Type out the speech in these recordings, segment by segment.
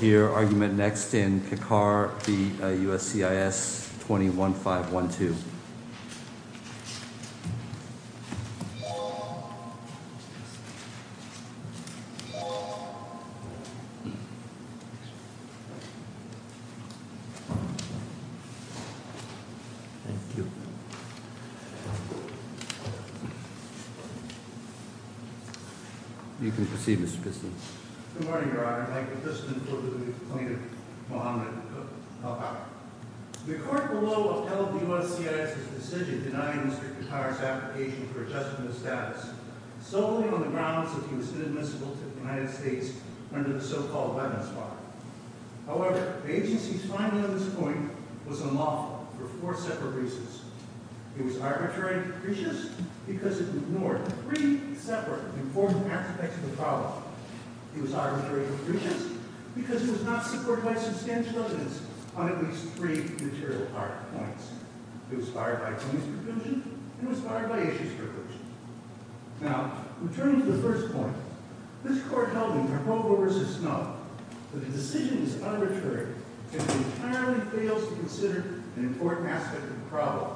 We will hear argument next in Kakar v. USCIS 21-512. Thank you. You can proceed, Mr. Piston. Good morning, Your Honor. I, Mr. Piston, publicly complain of Muhammad al-Qaeda. The court below upheld the USCIS' decision denying Mr. Kakar's application for adjustment of status solely on the grounds that he was inadmissible to the United States under the so-called weapons law. However, the agency's finding on this point was unlawful for four separate reasons. It was arbitrary and capricious because it ignored three separate important aspects of the problem. It was arbitrary and capricious because it was not supported by substantial evidence on at least three material points. It was fired by police provision, and it was fired by issue strippers. Now, returning to the first point, this court held in Narogo v. Snow that the decision is arbitrary if it entirely fails to consider an important aspect of the problem.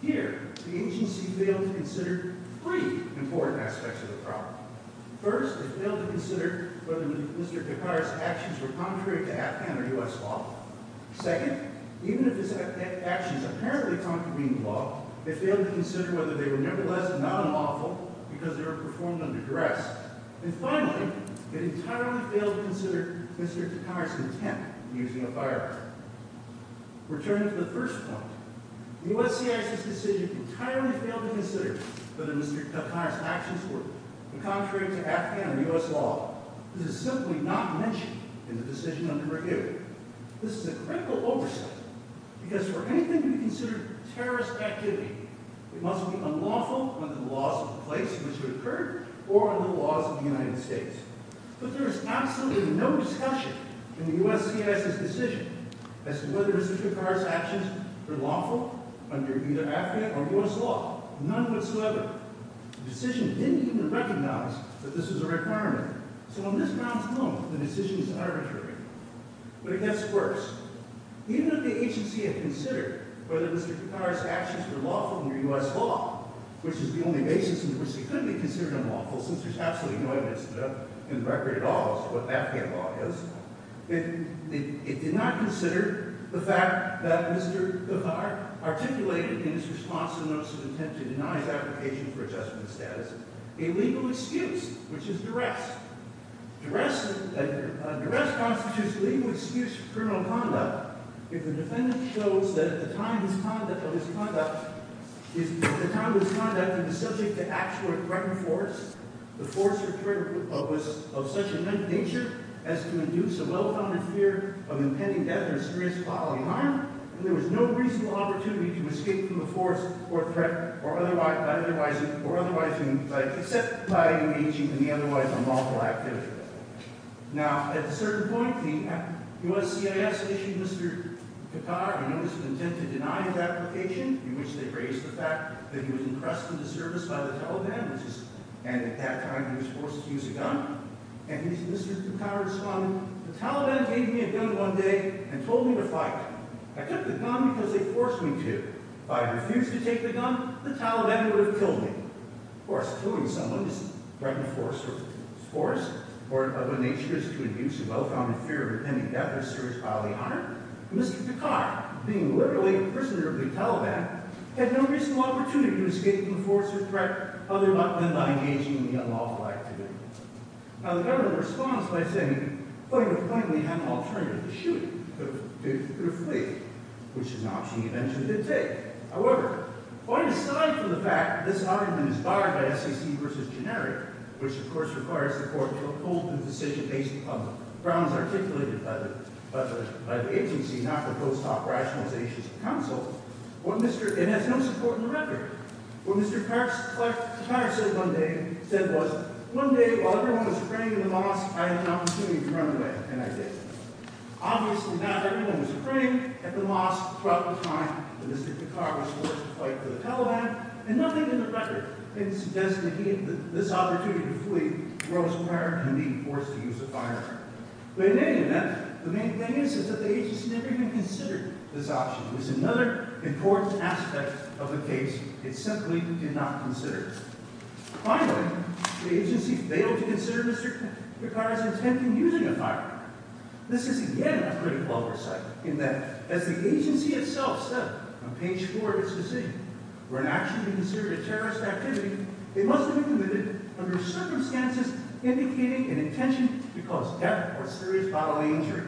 Here, the agency failed to consider three important aspects of the problem. First, it failed to consider whether Mr. Kakar's actions were contrary to Afghan or U.S. law. Second, even if his actions apparently contravene the law, it failed to consider whether they were nevertheless not unlawful because they were performed under duress. And finally, it entirely failed to consider Mr. Kakar's intent in using a firearm. Returning to the first point, the USCIS decision entirely failed to consider whether Mr. Kakar's actions were contrary to Afghan or U.S. law. This is simply not mentioned in the decision under review. This is a critical oversight because for anything to be considered terrorist activity, it must be unlawful under the laws of the place in which it occurred or under the laws of the United States. But there is absolutely no discussion in the USCIS's decision as to whether Mr. Kakar's actions were lawful under either Afghan or U.S. law, none whatsoever. The decision didn't even recognize that this was a requirement. So on this grounds alone, the decision is arbitrary. But it gets worse. Even if the agency had considered whether Mr. Kakar's actions were lawful under U.S. law, which is the only basis on which he could be considered unlawful since there's absolutely no evidence in the record at all as to what Afghan law is, it did not consider the fact that Mr. Kakar articulated in his response a notice of intent to deny his application for adjustment status a legal excuse, which is duress. Duress constitutes legal excuse for criminal conduct if the defendant shows that at the time of his conduct he was subject to actual or threatened force. The force or threat was of such a nature as to induce a well-founded fear of impending death or experience bodily harm, and there was no reasonable opportunity to escape from the force or threat except by engaging in the otherwise unlawful activity. Now, at a certain point, the USCIS issued Mr. Kakar a notice of intent to deny his application, in which they raised the fact that he was impressed with the service by the Taliban, and at that time he was forced to use a gun. And Mr. Kakar responded, the Taliban gave me a gun one day and told me to fight. I took the gun because they forced me to. If I had refused to take the gun, the Taliban would have killed me. Of course, killing someone is threatened force, or of a nature as to induce a well-founded fear of impending death or experience bodily harm. Mr. Kakar, being literally a prisoner of the Taliban, had no reasonable opportunity to escape from the force or threat other than by engaging in the unlawful activity. Now, the government responds by saying, well, you have finally had an alternative to shooting. You could have fled, which is an option you eventually did take. However, quite aside from the fact that this argument is barred by SEC versus generic, which, of course, requires the court to uphold the decision based on the grounds articulated by the agency, not the post-op rationalizations of counsel, it has no support in the record. What Mr. Kakar said one day was, one day, while everyone was praying in the mosque, I had an opportunity to run away, and I did. Obviously, not everyone was praying at the mosque throughout the time that Mr. Kakar was forced to fight the Taliban, and nothing in the record suggests that he had this opportunity to flee while he was praying and being forced to use a firearm. But in any event, the main thing is that the agency never even considered this option. This is another important aspect of the case. It simply did not consider it. Finally, the agency failed to consider Mr. Kakar's intent in using a firearm. This is, again, a critical oversight in that, as the agency itself said on page four of its decision, for an action to be considered a terrorist activity, it must be committed under circumstances indicating an intention to cause death or serious bodily injury.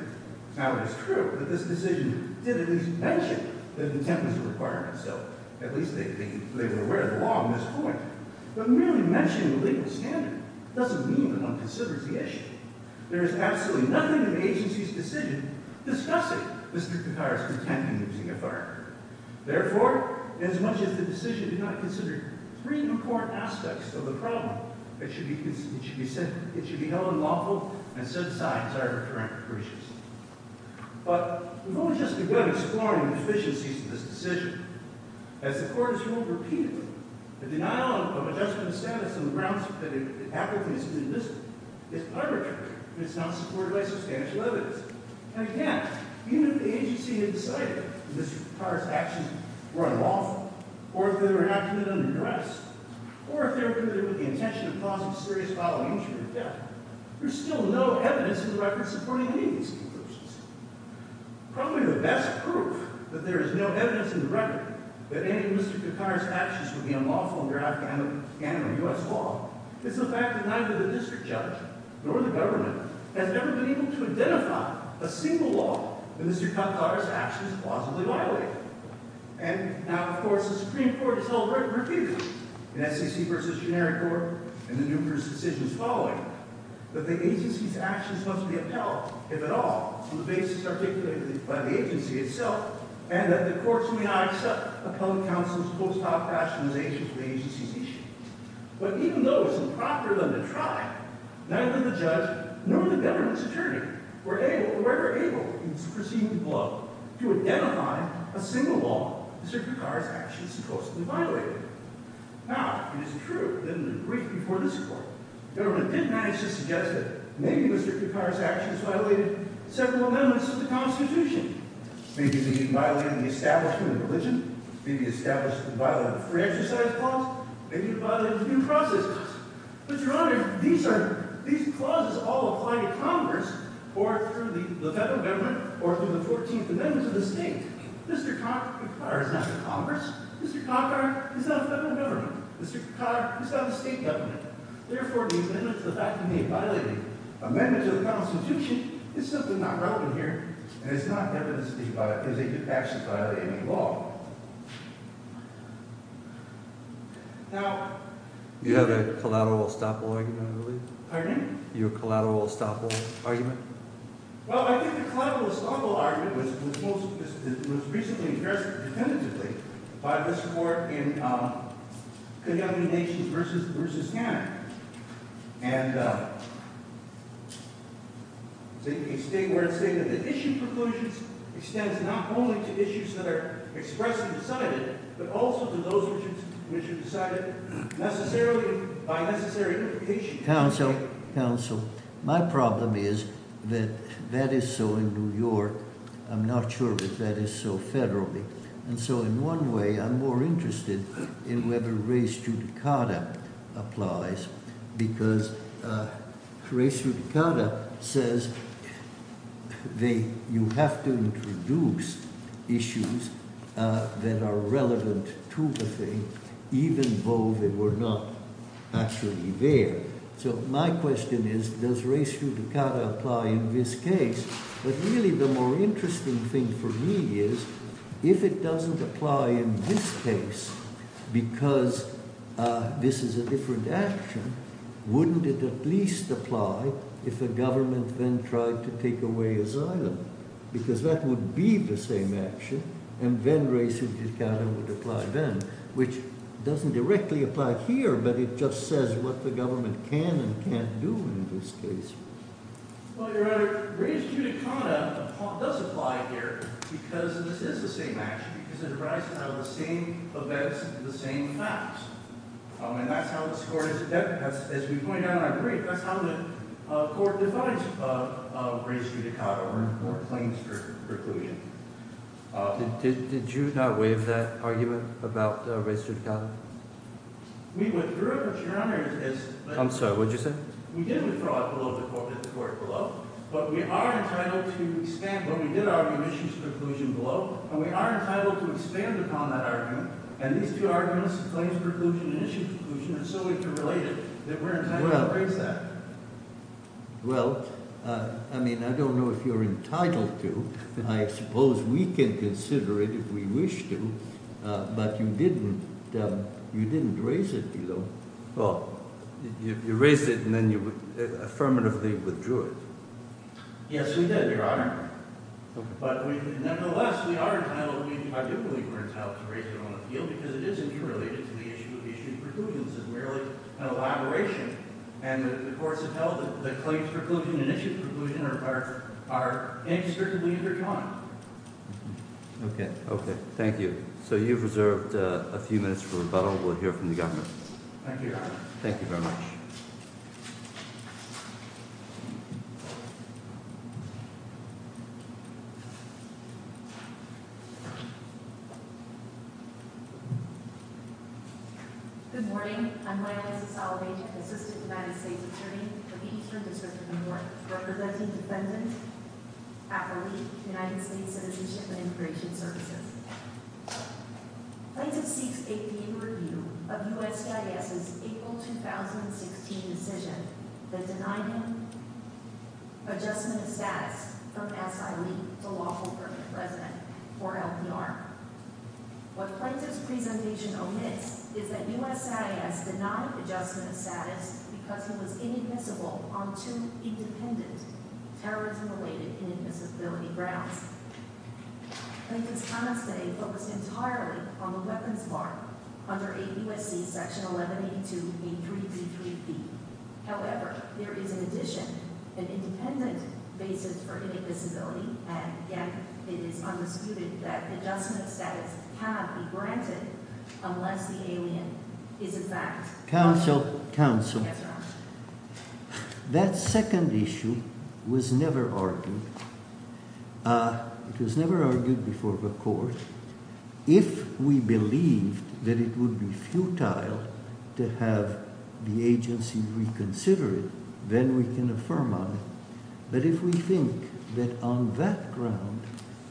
Now, it is true that this decision did at least mention that intent was a requirement, so at least they were aware of the law on this point. But merely mentioning the legal standard doesn't mean that one considers the issue. There is absolutely nothing in the agency's decision discussing Mr. Kakar's intent in using a firearm. Therefore, as much as the decision did not consider three important aspects of the problem, it should be held unlawful and set aside as arbitrary and capricious. But we've only just begun exploring the deficiencies of this decision. As the Court has ruled repeatedly, the denial of adjustment of status on the grounds that it happened to be a student incident is arbitrary and is not supported by substantial evidence. And again, even if the agency had decided that Mr. Kakar's actions were unlawful, or if they were not committed under duress, or if they were committed with the intention to cause a serious bodily injury or death, there's still no evidence in the record supporting any of these conclusions. Probably the best proof that there is no evidence in the record that any of Mr. Kakar's actions would be unlawful under Afghani or U.S. law is the fact that neither the district judge nor the government has ever been able to identify a single law in which Mr. Kakar's actions are plausibly violated. And now, of course, the Supreme Court has held repeated in SEC v. Generic Court and the numerous decisions following that the agency's actions must be upheld, if at all, on the basis articulated by the agency itself, and that the courts may not accept appellate counsel's post-hoc rationalization for the agency's issues. But even though it's improper of them to try, neither the judge nor the government's attorney were ever able in this proceeding below to identify a single law Mr. Kakar's actions supposedly violated. Now, it is true that in the brief before this court, the government did manage to suggest that maybe Mr. Kakar's actions violated several amendments of the Constitution. Maybe they violated the Establishment of Religion, maybe they violated the Free Exercise Clause, maybe they violated the New Process Clause. But, Your Honor, these clauses all apply to Congress or through the federal government or through the 14th Amendments of the state. Mr. Kakar is not in Congress. Mr. Kakar is not a federal government. Mr. Kakar is not a state government. Therefore, these amendments, the fact that they violated amendments of the Constitution, is simply not relevant here. And it's not evidence that they did actually violate any law. You have a collateral estoppel argument, I believe. Pardon me? You have a collateral estoppel argument? My problem is that that is so in New York. I'm not sure that that is so federally. And so, in one way, I'm more interested in whether res judicata applies because res judicata says you have to introduce issues that are relevant to the thing even though they were not actually there. So, my question is, does res judicata apply in this case? But really, the more interesting thing for me is, if it doesn't apply in this case because this is a different action, wouldn't it at least apply if the government then tried to take away asylum? Because that would be the same action and then res judicata would apply then, which doesn't directly apply here, but it just says what the government can and can't do in this case. Well, Your Honor, res judicata does apply here because this is the same action, because it arises out of the same events and the same facts. And that's how this Court, as we point out in our brief, that's how the Court defines res judicata or claims for reclusion. Did you not waive that argument about res judicata? We withdrew it, Your Honor. I'm sorry, what did you say? We did withdraw it below the Court, but we are entitled to expand what we did argue, issues for reclusion below, and we are entitled to expand upon that argument and these two arguments, claims for reclusion and issues for reclusion, and so if you're related, that we're entitled to raise that. Well, I mean, I don't know if you're entitled to. I suppose we can consider it if we wish to, but you didn't raise it below. Well, you raised it and then you affirmatively withdrew it. Yes, we did, Your Honor. But nevertheless, we are entitled, I do believe we're entitled to raise it on the field because it is interrelated to the issue of issues for reclusion. This is merely an elaboration, and the courts have held that the claims for reclusion and issues for reclusion are indiscriminately intertwined. Okay, thank you. So you've reserved a few minutes for rebuttal. We'll hear from the government. Thank you, Your Honor. Thank you very much. Good morning. Good morning. I'm Liza Solovey, Assistant United States Attorney for Eastern District of New York, representing defendants at LEAP, United States Citizenship and Immigration Services. Plaintiff seeks a review of USCIS's April 2016 decision that denied him adjustment of status from SILEAP to lawful permanent resident or LPR. What Plaintiff's presentation omits is that USCIS denied adjustment of status because he was inadmissible on two independent terrorism-related inadmissibility grounds. Plaintiff's comments today focus entirely on the weapons bar under 8 U.S.C. Section 1182, A.3.Z.3b. However, there is in addition an independent basis for inadmissibility, and yet it is disputed that adjustment of status cannot be granted unless the alien is in fact— Counsel. Counsel. Yes, Your Honor. That second issue was never argued. It was never argued before the court. If we believe that it would be futile to have the agency reconsider it, then we can affirm on it. But if we think that on that ground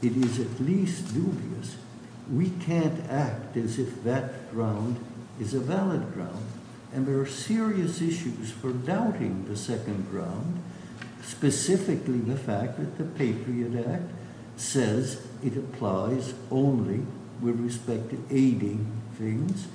it is at least dubious, we can't act as if that ground is a valid ground. And there are serious issues for doubting the second ground, specifically the fact that the Patriot Act says it applies only with respect to aiding things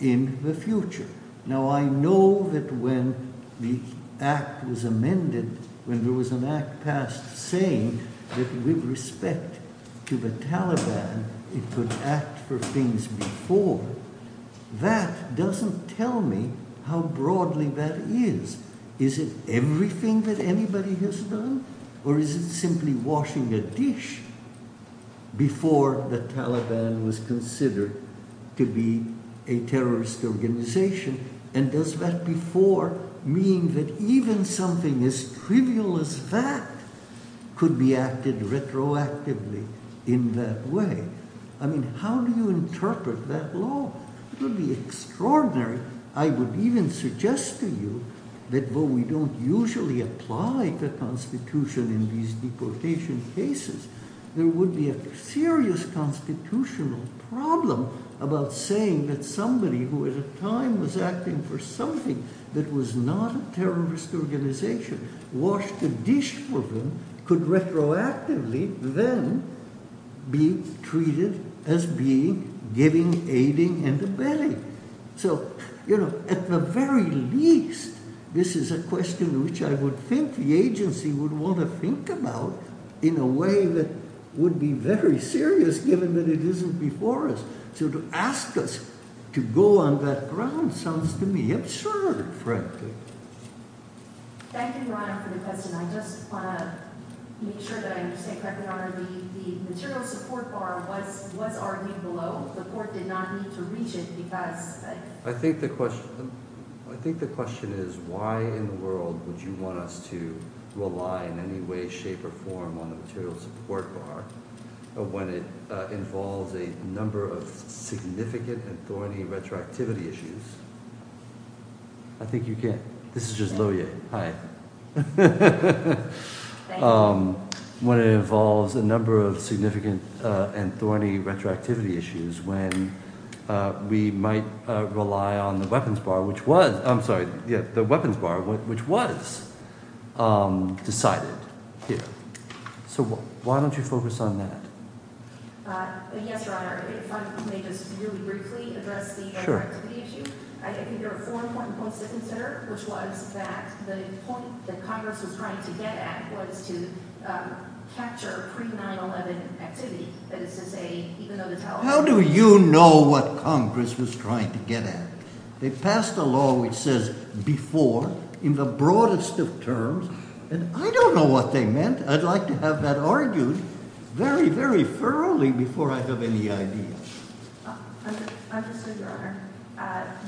in the future. Now, I know that when the Act was amended, when there was an Act passed saying that with respect to the Taliban it could act for things before, that doesn't tell me how broadly that is. Is it everything that anybody has done, or is it simply washing a dish before the Taliban was considered to be a terrorist organization? And does that before mean that even something as trivial as that could be acted retroactively in that way? I mean, how do you interpret that law? It would be extraordinary. I would even suggest to you that though we don't usually apply the Constitution in these constitutional problems, about saying that somebody who at a time was acting for something that was not a terrorist organization, washed a dish for them, could retroactively then be treated as being giving, aiding, and abetting. So, you know, at the very least, this is a question which I would think the agency would want to think about in a way that would be very serious given that it isn't before us. So to ask us to go on that ground sounds to me absurd, frankly. Thank you, Ron, for the question. I just want to make sure that I understand correctly, Your Honor, the material support bar was already below. The court did not need to reach it because... I think the question is, why in the world would you want us to rely in any way, shape, or form on the material support bar when it involves a number of significant and thorny retroactivity issues? I think you can. This is just Lohier. Hi. Thank you. When it involves a number of significant and thorny retroactivity issues, when we might rely on the weapons bar, which was decided here. So why don't you focus on that? Yes, Your Honor, if I may just really briefly address the retroactivity issue. I think there are four important points to consider, which was that the point that Congress was trying to get at was to capture pre-9-11 activity, that is to say, even though the Taliban... How do you know what Congress was trying to get at? They passed a law which says, before, in the broadest of terms, and I don't know what they meant. I'd like to have that argued very, very thoroughly before I have any idea. Understood, Your Honor.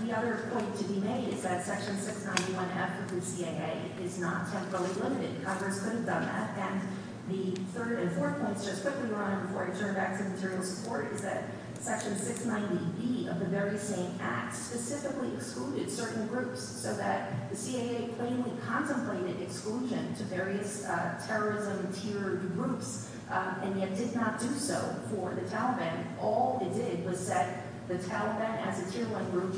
The other point to be made is that Section 691F of the CAA is not temporally limited. Congress could have done that. And the third and fourth points, just quickly, Your Honor, before I turn back to material support, is that Section 690B of the very same Act specifically excluded certain groups so that the CAA plainly contemplated exclusion to various terrorism-tiered groups and yet did not do so for the Taliban. All it did was set the Taliban as a tier-one group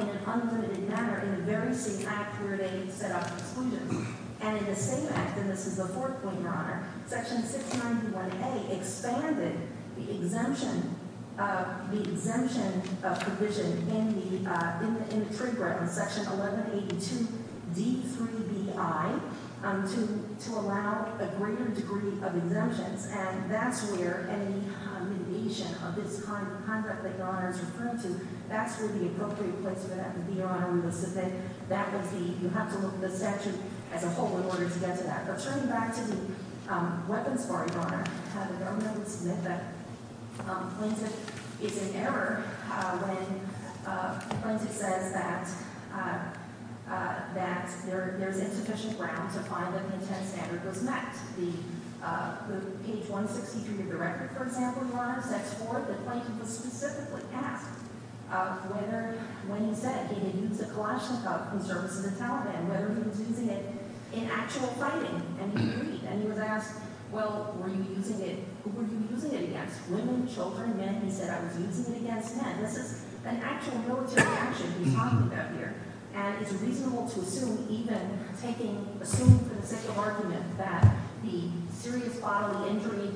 in an unlimited manner in the very same Act where they set up exclusions. And in the same Act, and this is the fourth point, Your Honor, Section 691A expanded the exemption of provision in the trigger on Section 1182D through BI to allow a greater degree of exemptions. And that's where any mitigation of this kind of conduct that Your Honor is referring to, that's where the appropriate placement of the honor was to fit. That was the – you have to look at the statute as a whole in order to get to that. But turning back to the weapons bar, Your Honor, the government would submit that Plaintiff is in error when Plaintiff says that there's insufficient ground to find that the intent and standard was met. The – page 163 of your record, for example, Your Honor, section 4, the Plaintiff was specifically asked whether – when he said he had used a Kalashnikov in services of the Taliban, whether he was using it in actual fighting, and he agreed. And he was asked, well, were you using it – who were you using it against, women, children, men? He said, I was using it against men. This is an actual military action he's talking about here, and it's reasonable to assume for the sake of argument that the serious bodily injury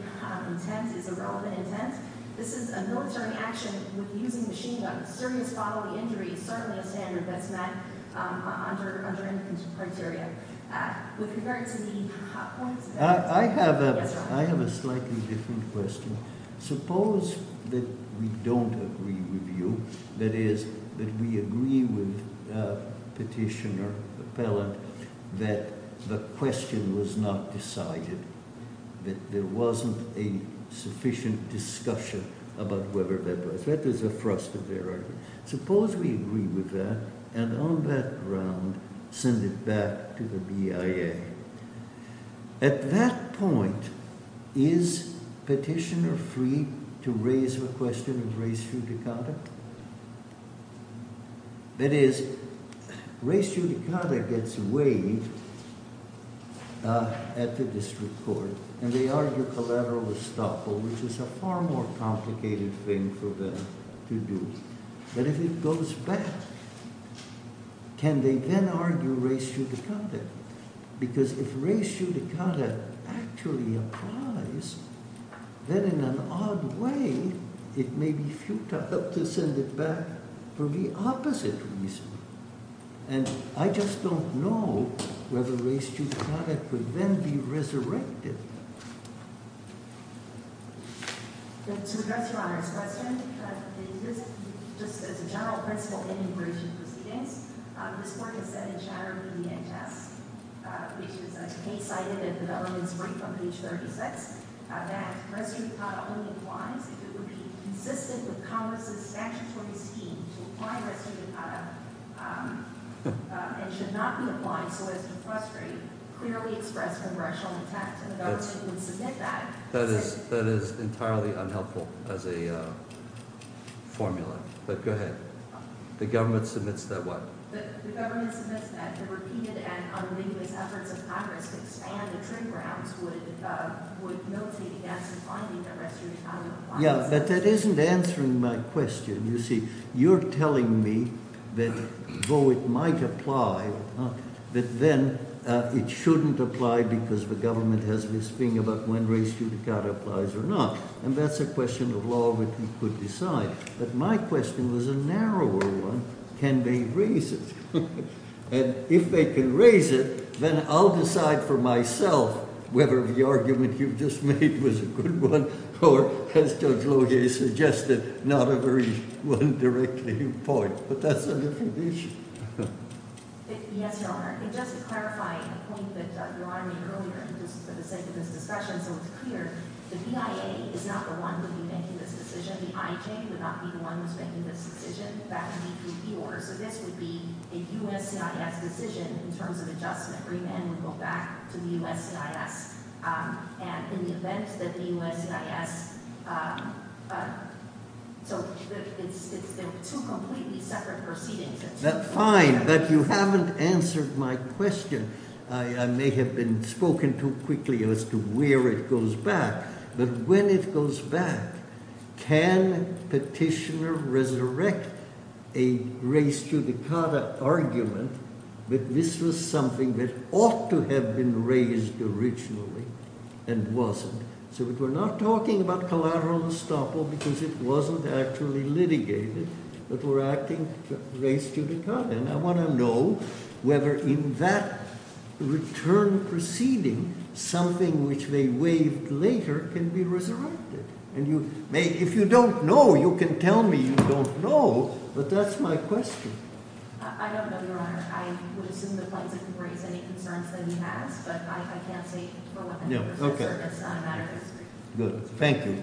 intent is a relevant intent. This is a military action with using machine guns. Serious bodily injury is certainly a standard that's met under any criteria. With regard to the hot points – I have a slightly different question. Suppose that we don't agree with you, that is, that we agree with Petitioner, Appellant, that the question was not decided, that there wasn't a sufficient discussion about whether that was. That is a thrust of their argument. Suppose we agree with that, and on that ground send it back to the BIA. At that point, is Petitioner free to raise the question of res judicata? That is, res judicata gets weighed at the district court, and they argue collateral estoppel, which is a far more complicated thing for them to do. But if it goes back, can they then argue res judicata? Because if res judicata actually applies, then in an odd way it may be futile to send it back for the opposite reason. And I just don't know whether res judicata could then be resurrected. To address Your Honor's question, just as a general principle in immigration proceedings, this Court has said in Chatterley v. H.S., which was case-cited in the elements brief on page 36, that res judicata only applies if it would be consistent with Congress's statutory scheme to apply res judicata, and should not be applied so as to frustrate clearly expressed congressional intent. And the government would submit that. That is entirely unhelpful as a formula. But go ahead. The government submits that what? The government submits that the repeated and unambiguous efforts of Congress to expand the trade grounds would militate against the finding that res judicata applies. Yeah, but that isn't answering my question. You see, you're telling me that though it might apply or not, that then it shouldn't apply because the government has this thing about when res judicata applies or not. And that's a question of law that we could decide. But my question was a narrower one. Can they raise it? And if they can raise it, then I'll decide for myself whether the argument you've just made was a good one or, as Judge Loge suggested, not a very one directly in point. But that's a different issue. Yes, Your Honor. And just to clarify a point that Your Honor made earlier, just for the sake of this discussion so it's clear, the BIA is not the one who would be making this decision. The IJ would not be the one who's making this decision. That would be the order. So this would be a USCIS decision in terms of adjustment. Remand would go back to the USCIS. And in the event that the USCIS, so it's two completely separate proceedings. That's fine. But you haven't answered my question. I may have been spoken too quickly as to where it goes back. But when it goes back, can petitioner resurrect a res judicata argument that this was something that ought to have been raised originally and wasn't? So we're not talking about collateral estoppel because it wasn't actually litigated, but we're acting res judicata. And I want to know whether in that return proceeding, something which they waived later can be resurrected. And if you don't know, you can tell me you don't know. I don't know, Your Honor. I would assume the plaintiff can raise any concerns that he has. But I can't say for what purpose. No, okay. It's not a matter of history. Good. Thank you.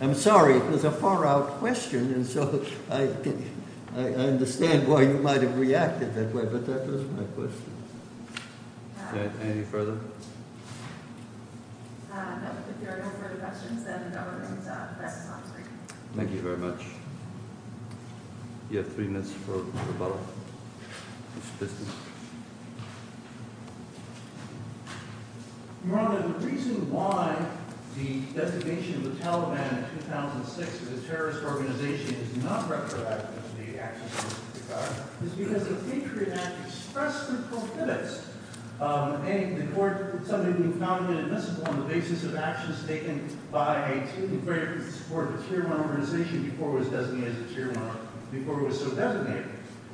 I'm sorry. It was a far out question. And so I understand why you might have reacted that way. But that was my question. Okay. Any further? No. If there are no further questions, then the government presses on. Thank you very much. You have three minutes for rebuttal. Mr. Piston. Your Honor, the reason why the designation of the Taliban in 2006 as a terrorist organization is not retroactively accessible to the court is because the Patriot Act expressly prohibits the court from suddenly being found inadmissible on the basis of actions taken by a team of veterans to support a Tier 1 organization before it was designated as a Tier 1, before it was so designated.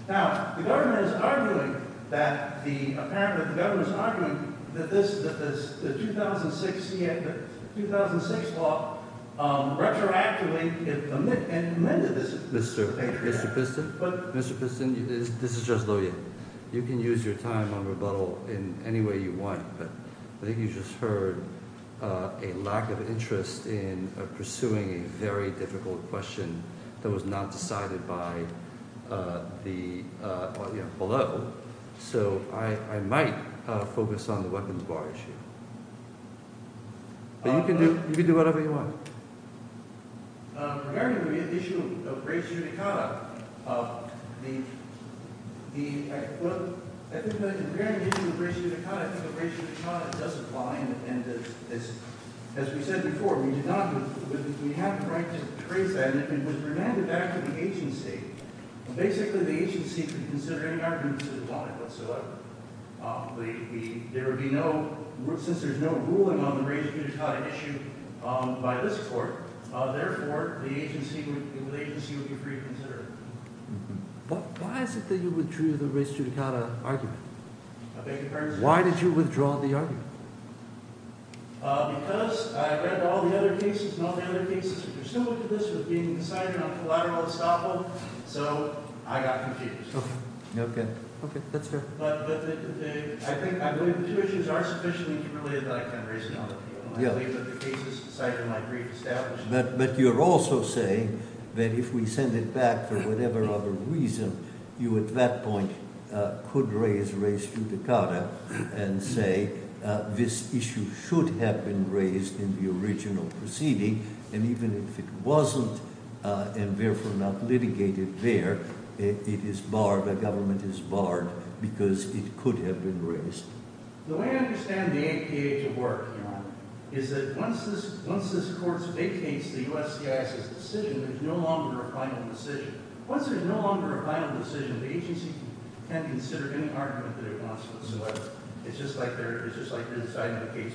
Now, the government is arguing that the 2006 law retroactively amended this Patriot Act. Mr. Piston, this is Judge Lohjian. You can use your time on rebuttal in any way you want. But I think you just heard a lack of interest in pursuing a very difficult question that was not decided by the – you know, below. So I might focus on the weapons bar issue. But you can do – you can do whatever you want. Regarding the issue of race judicata, the – well, I think the – regarding the issue of race judicata, I think the race judicata does apply, and it's – as we said before, we do not – we have the right to trace that, and it was remanded back to the agency. Basically, the agency could consider any argument that it wanted whatsoever. The – there would be no – since there's no ruling on the race judicata issue by this court, therefore, the agency would be free to consider it. But why is it that you withdrew the race judicata argument? Why did you withdraw the argument? Because I read all the other cases, and all the other cases which are similar to this were being decided on collateral estoppel, so I got confused. Okay. Okay. Okay, that's fair. But the – I think – I believe the two issues are sufficiently interrelated that I can raise another one. Yeah. I believe that the cases decided in my brief established – But you're also saying that if we send it back for whatever other reason, you at that point could raise race judicata and say this issue should have been raised in the original proceeding, and even if it wasn't and therefore not litigated there, it is barred – the government is barred because it could have been raised. The way I understand the APA to work, Your Honor, is that once this – once this court vacates the USCIS's decision, there's no longer a final decision. Once there's no longer a final decision, the agency can consider any argument that it wants whatsoever. It's just like their – it's just like their deciding the case.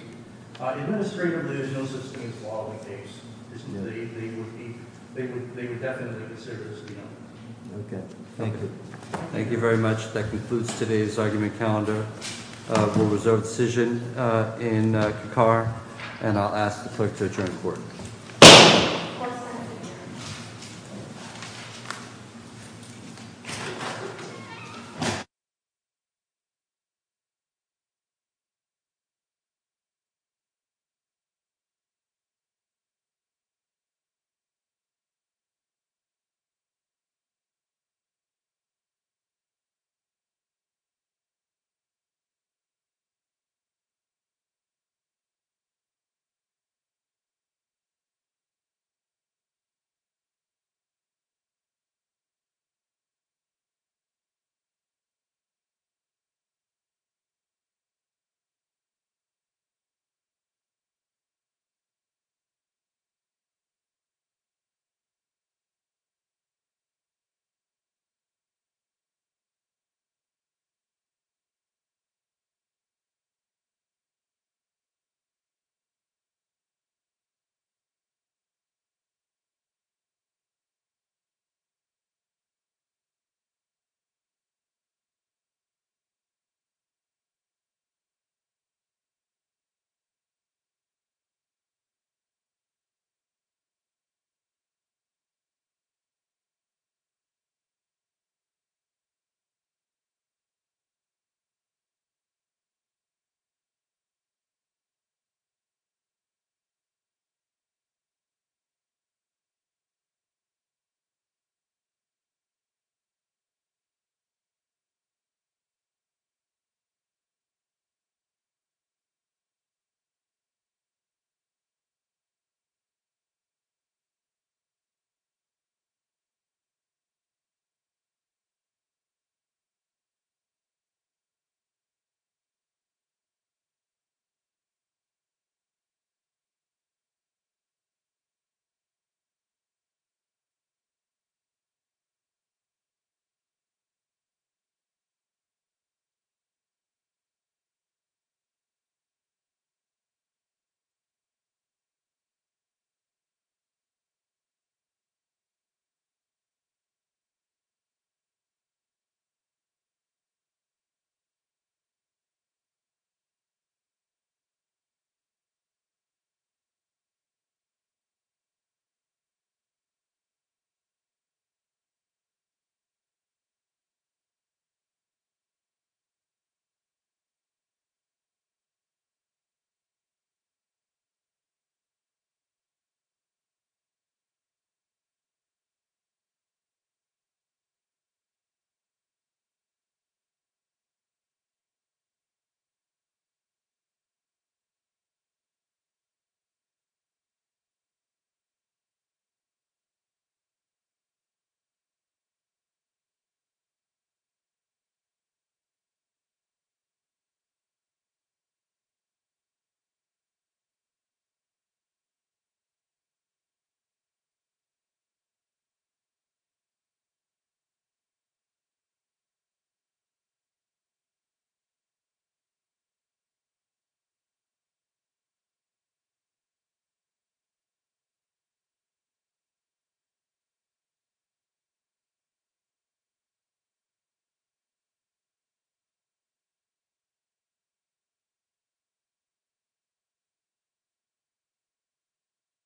Administratively, there's no sustained quality case. They would be – they would definitely consider this, Your Honor. Okay. Thank you. Thank you. Thank you very much. That concludes today's argument calendar. Court is adjourned. Thank you. Thank you. Thank you. Thank you. Thank you. Thank you. Thank you. Thank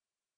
you. Thank you.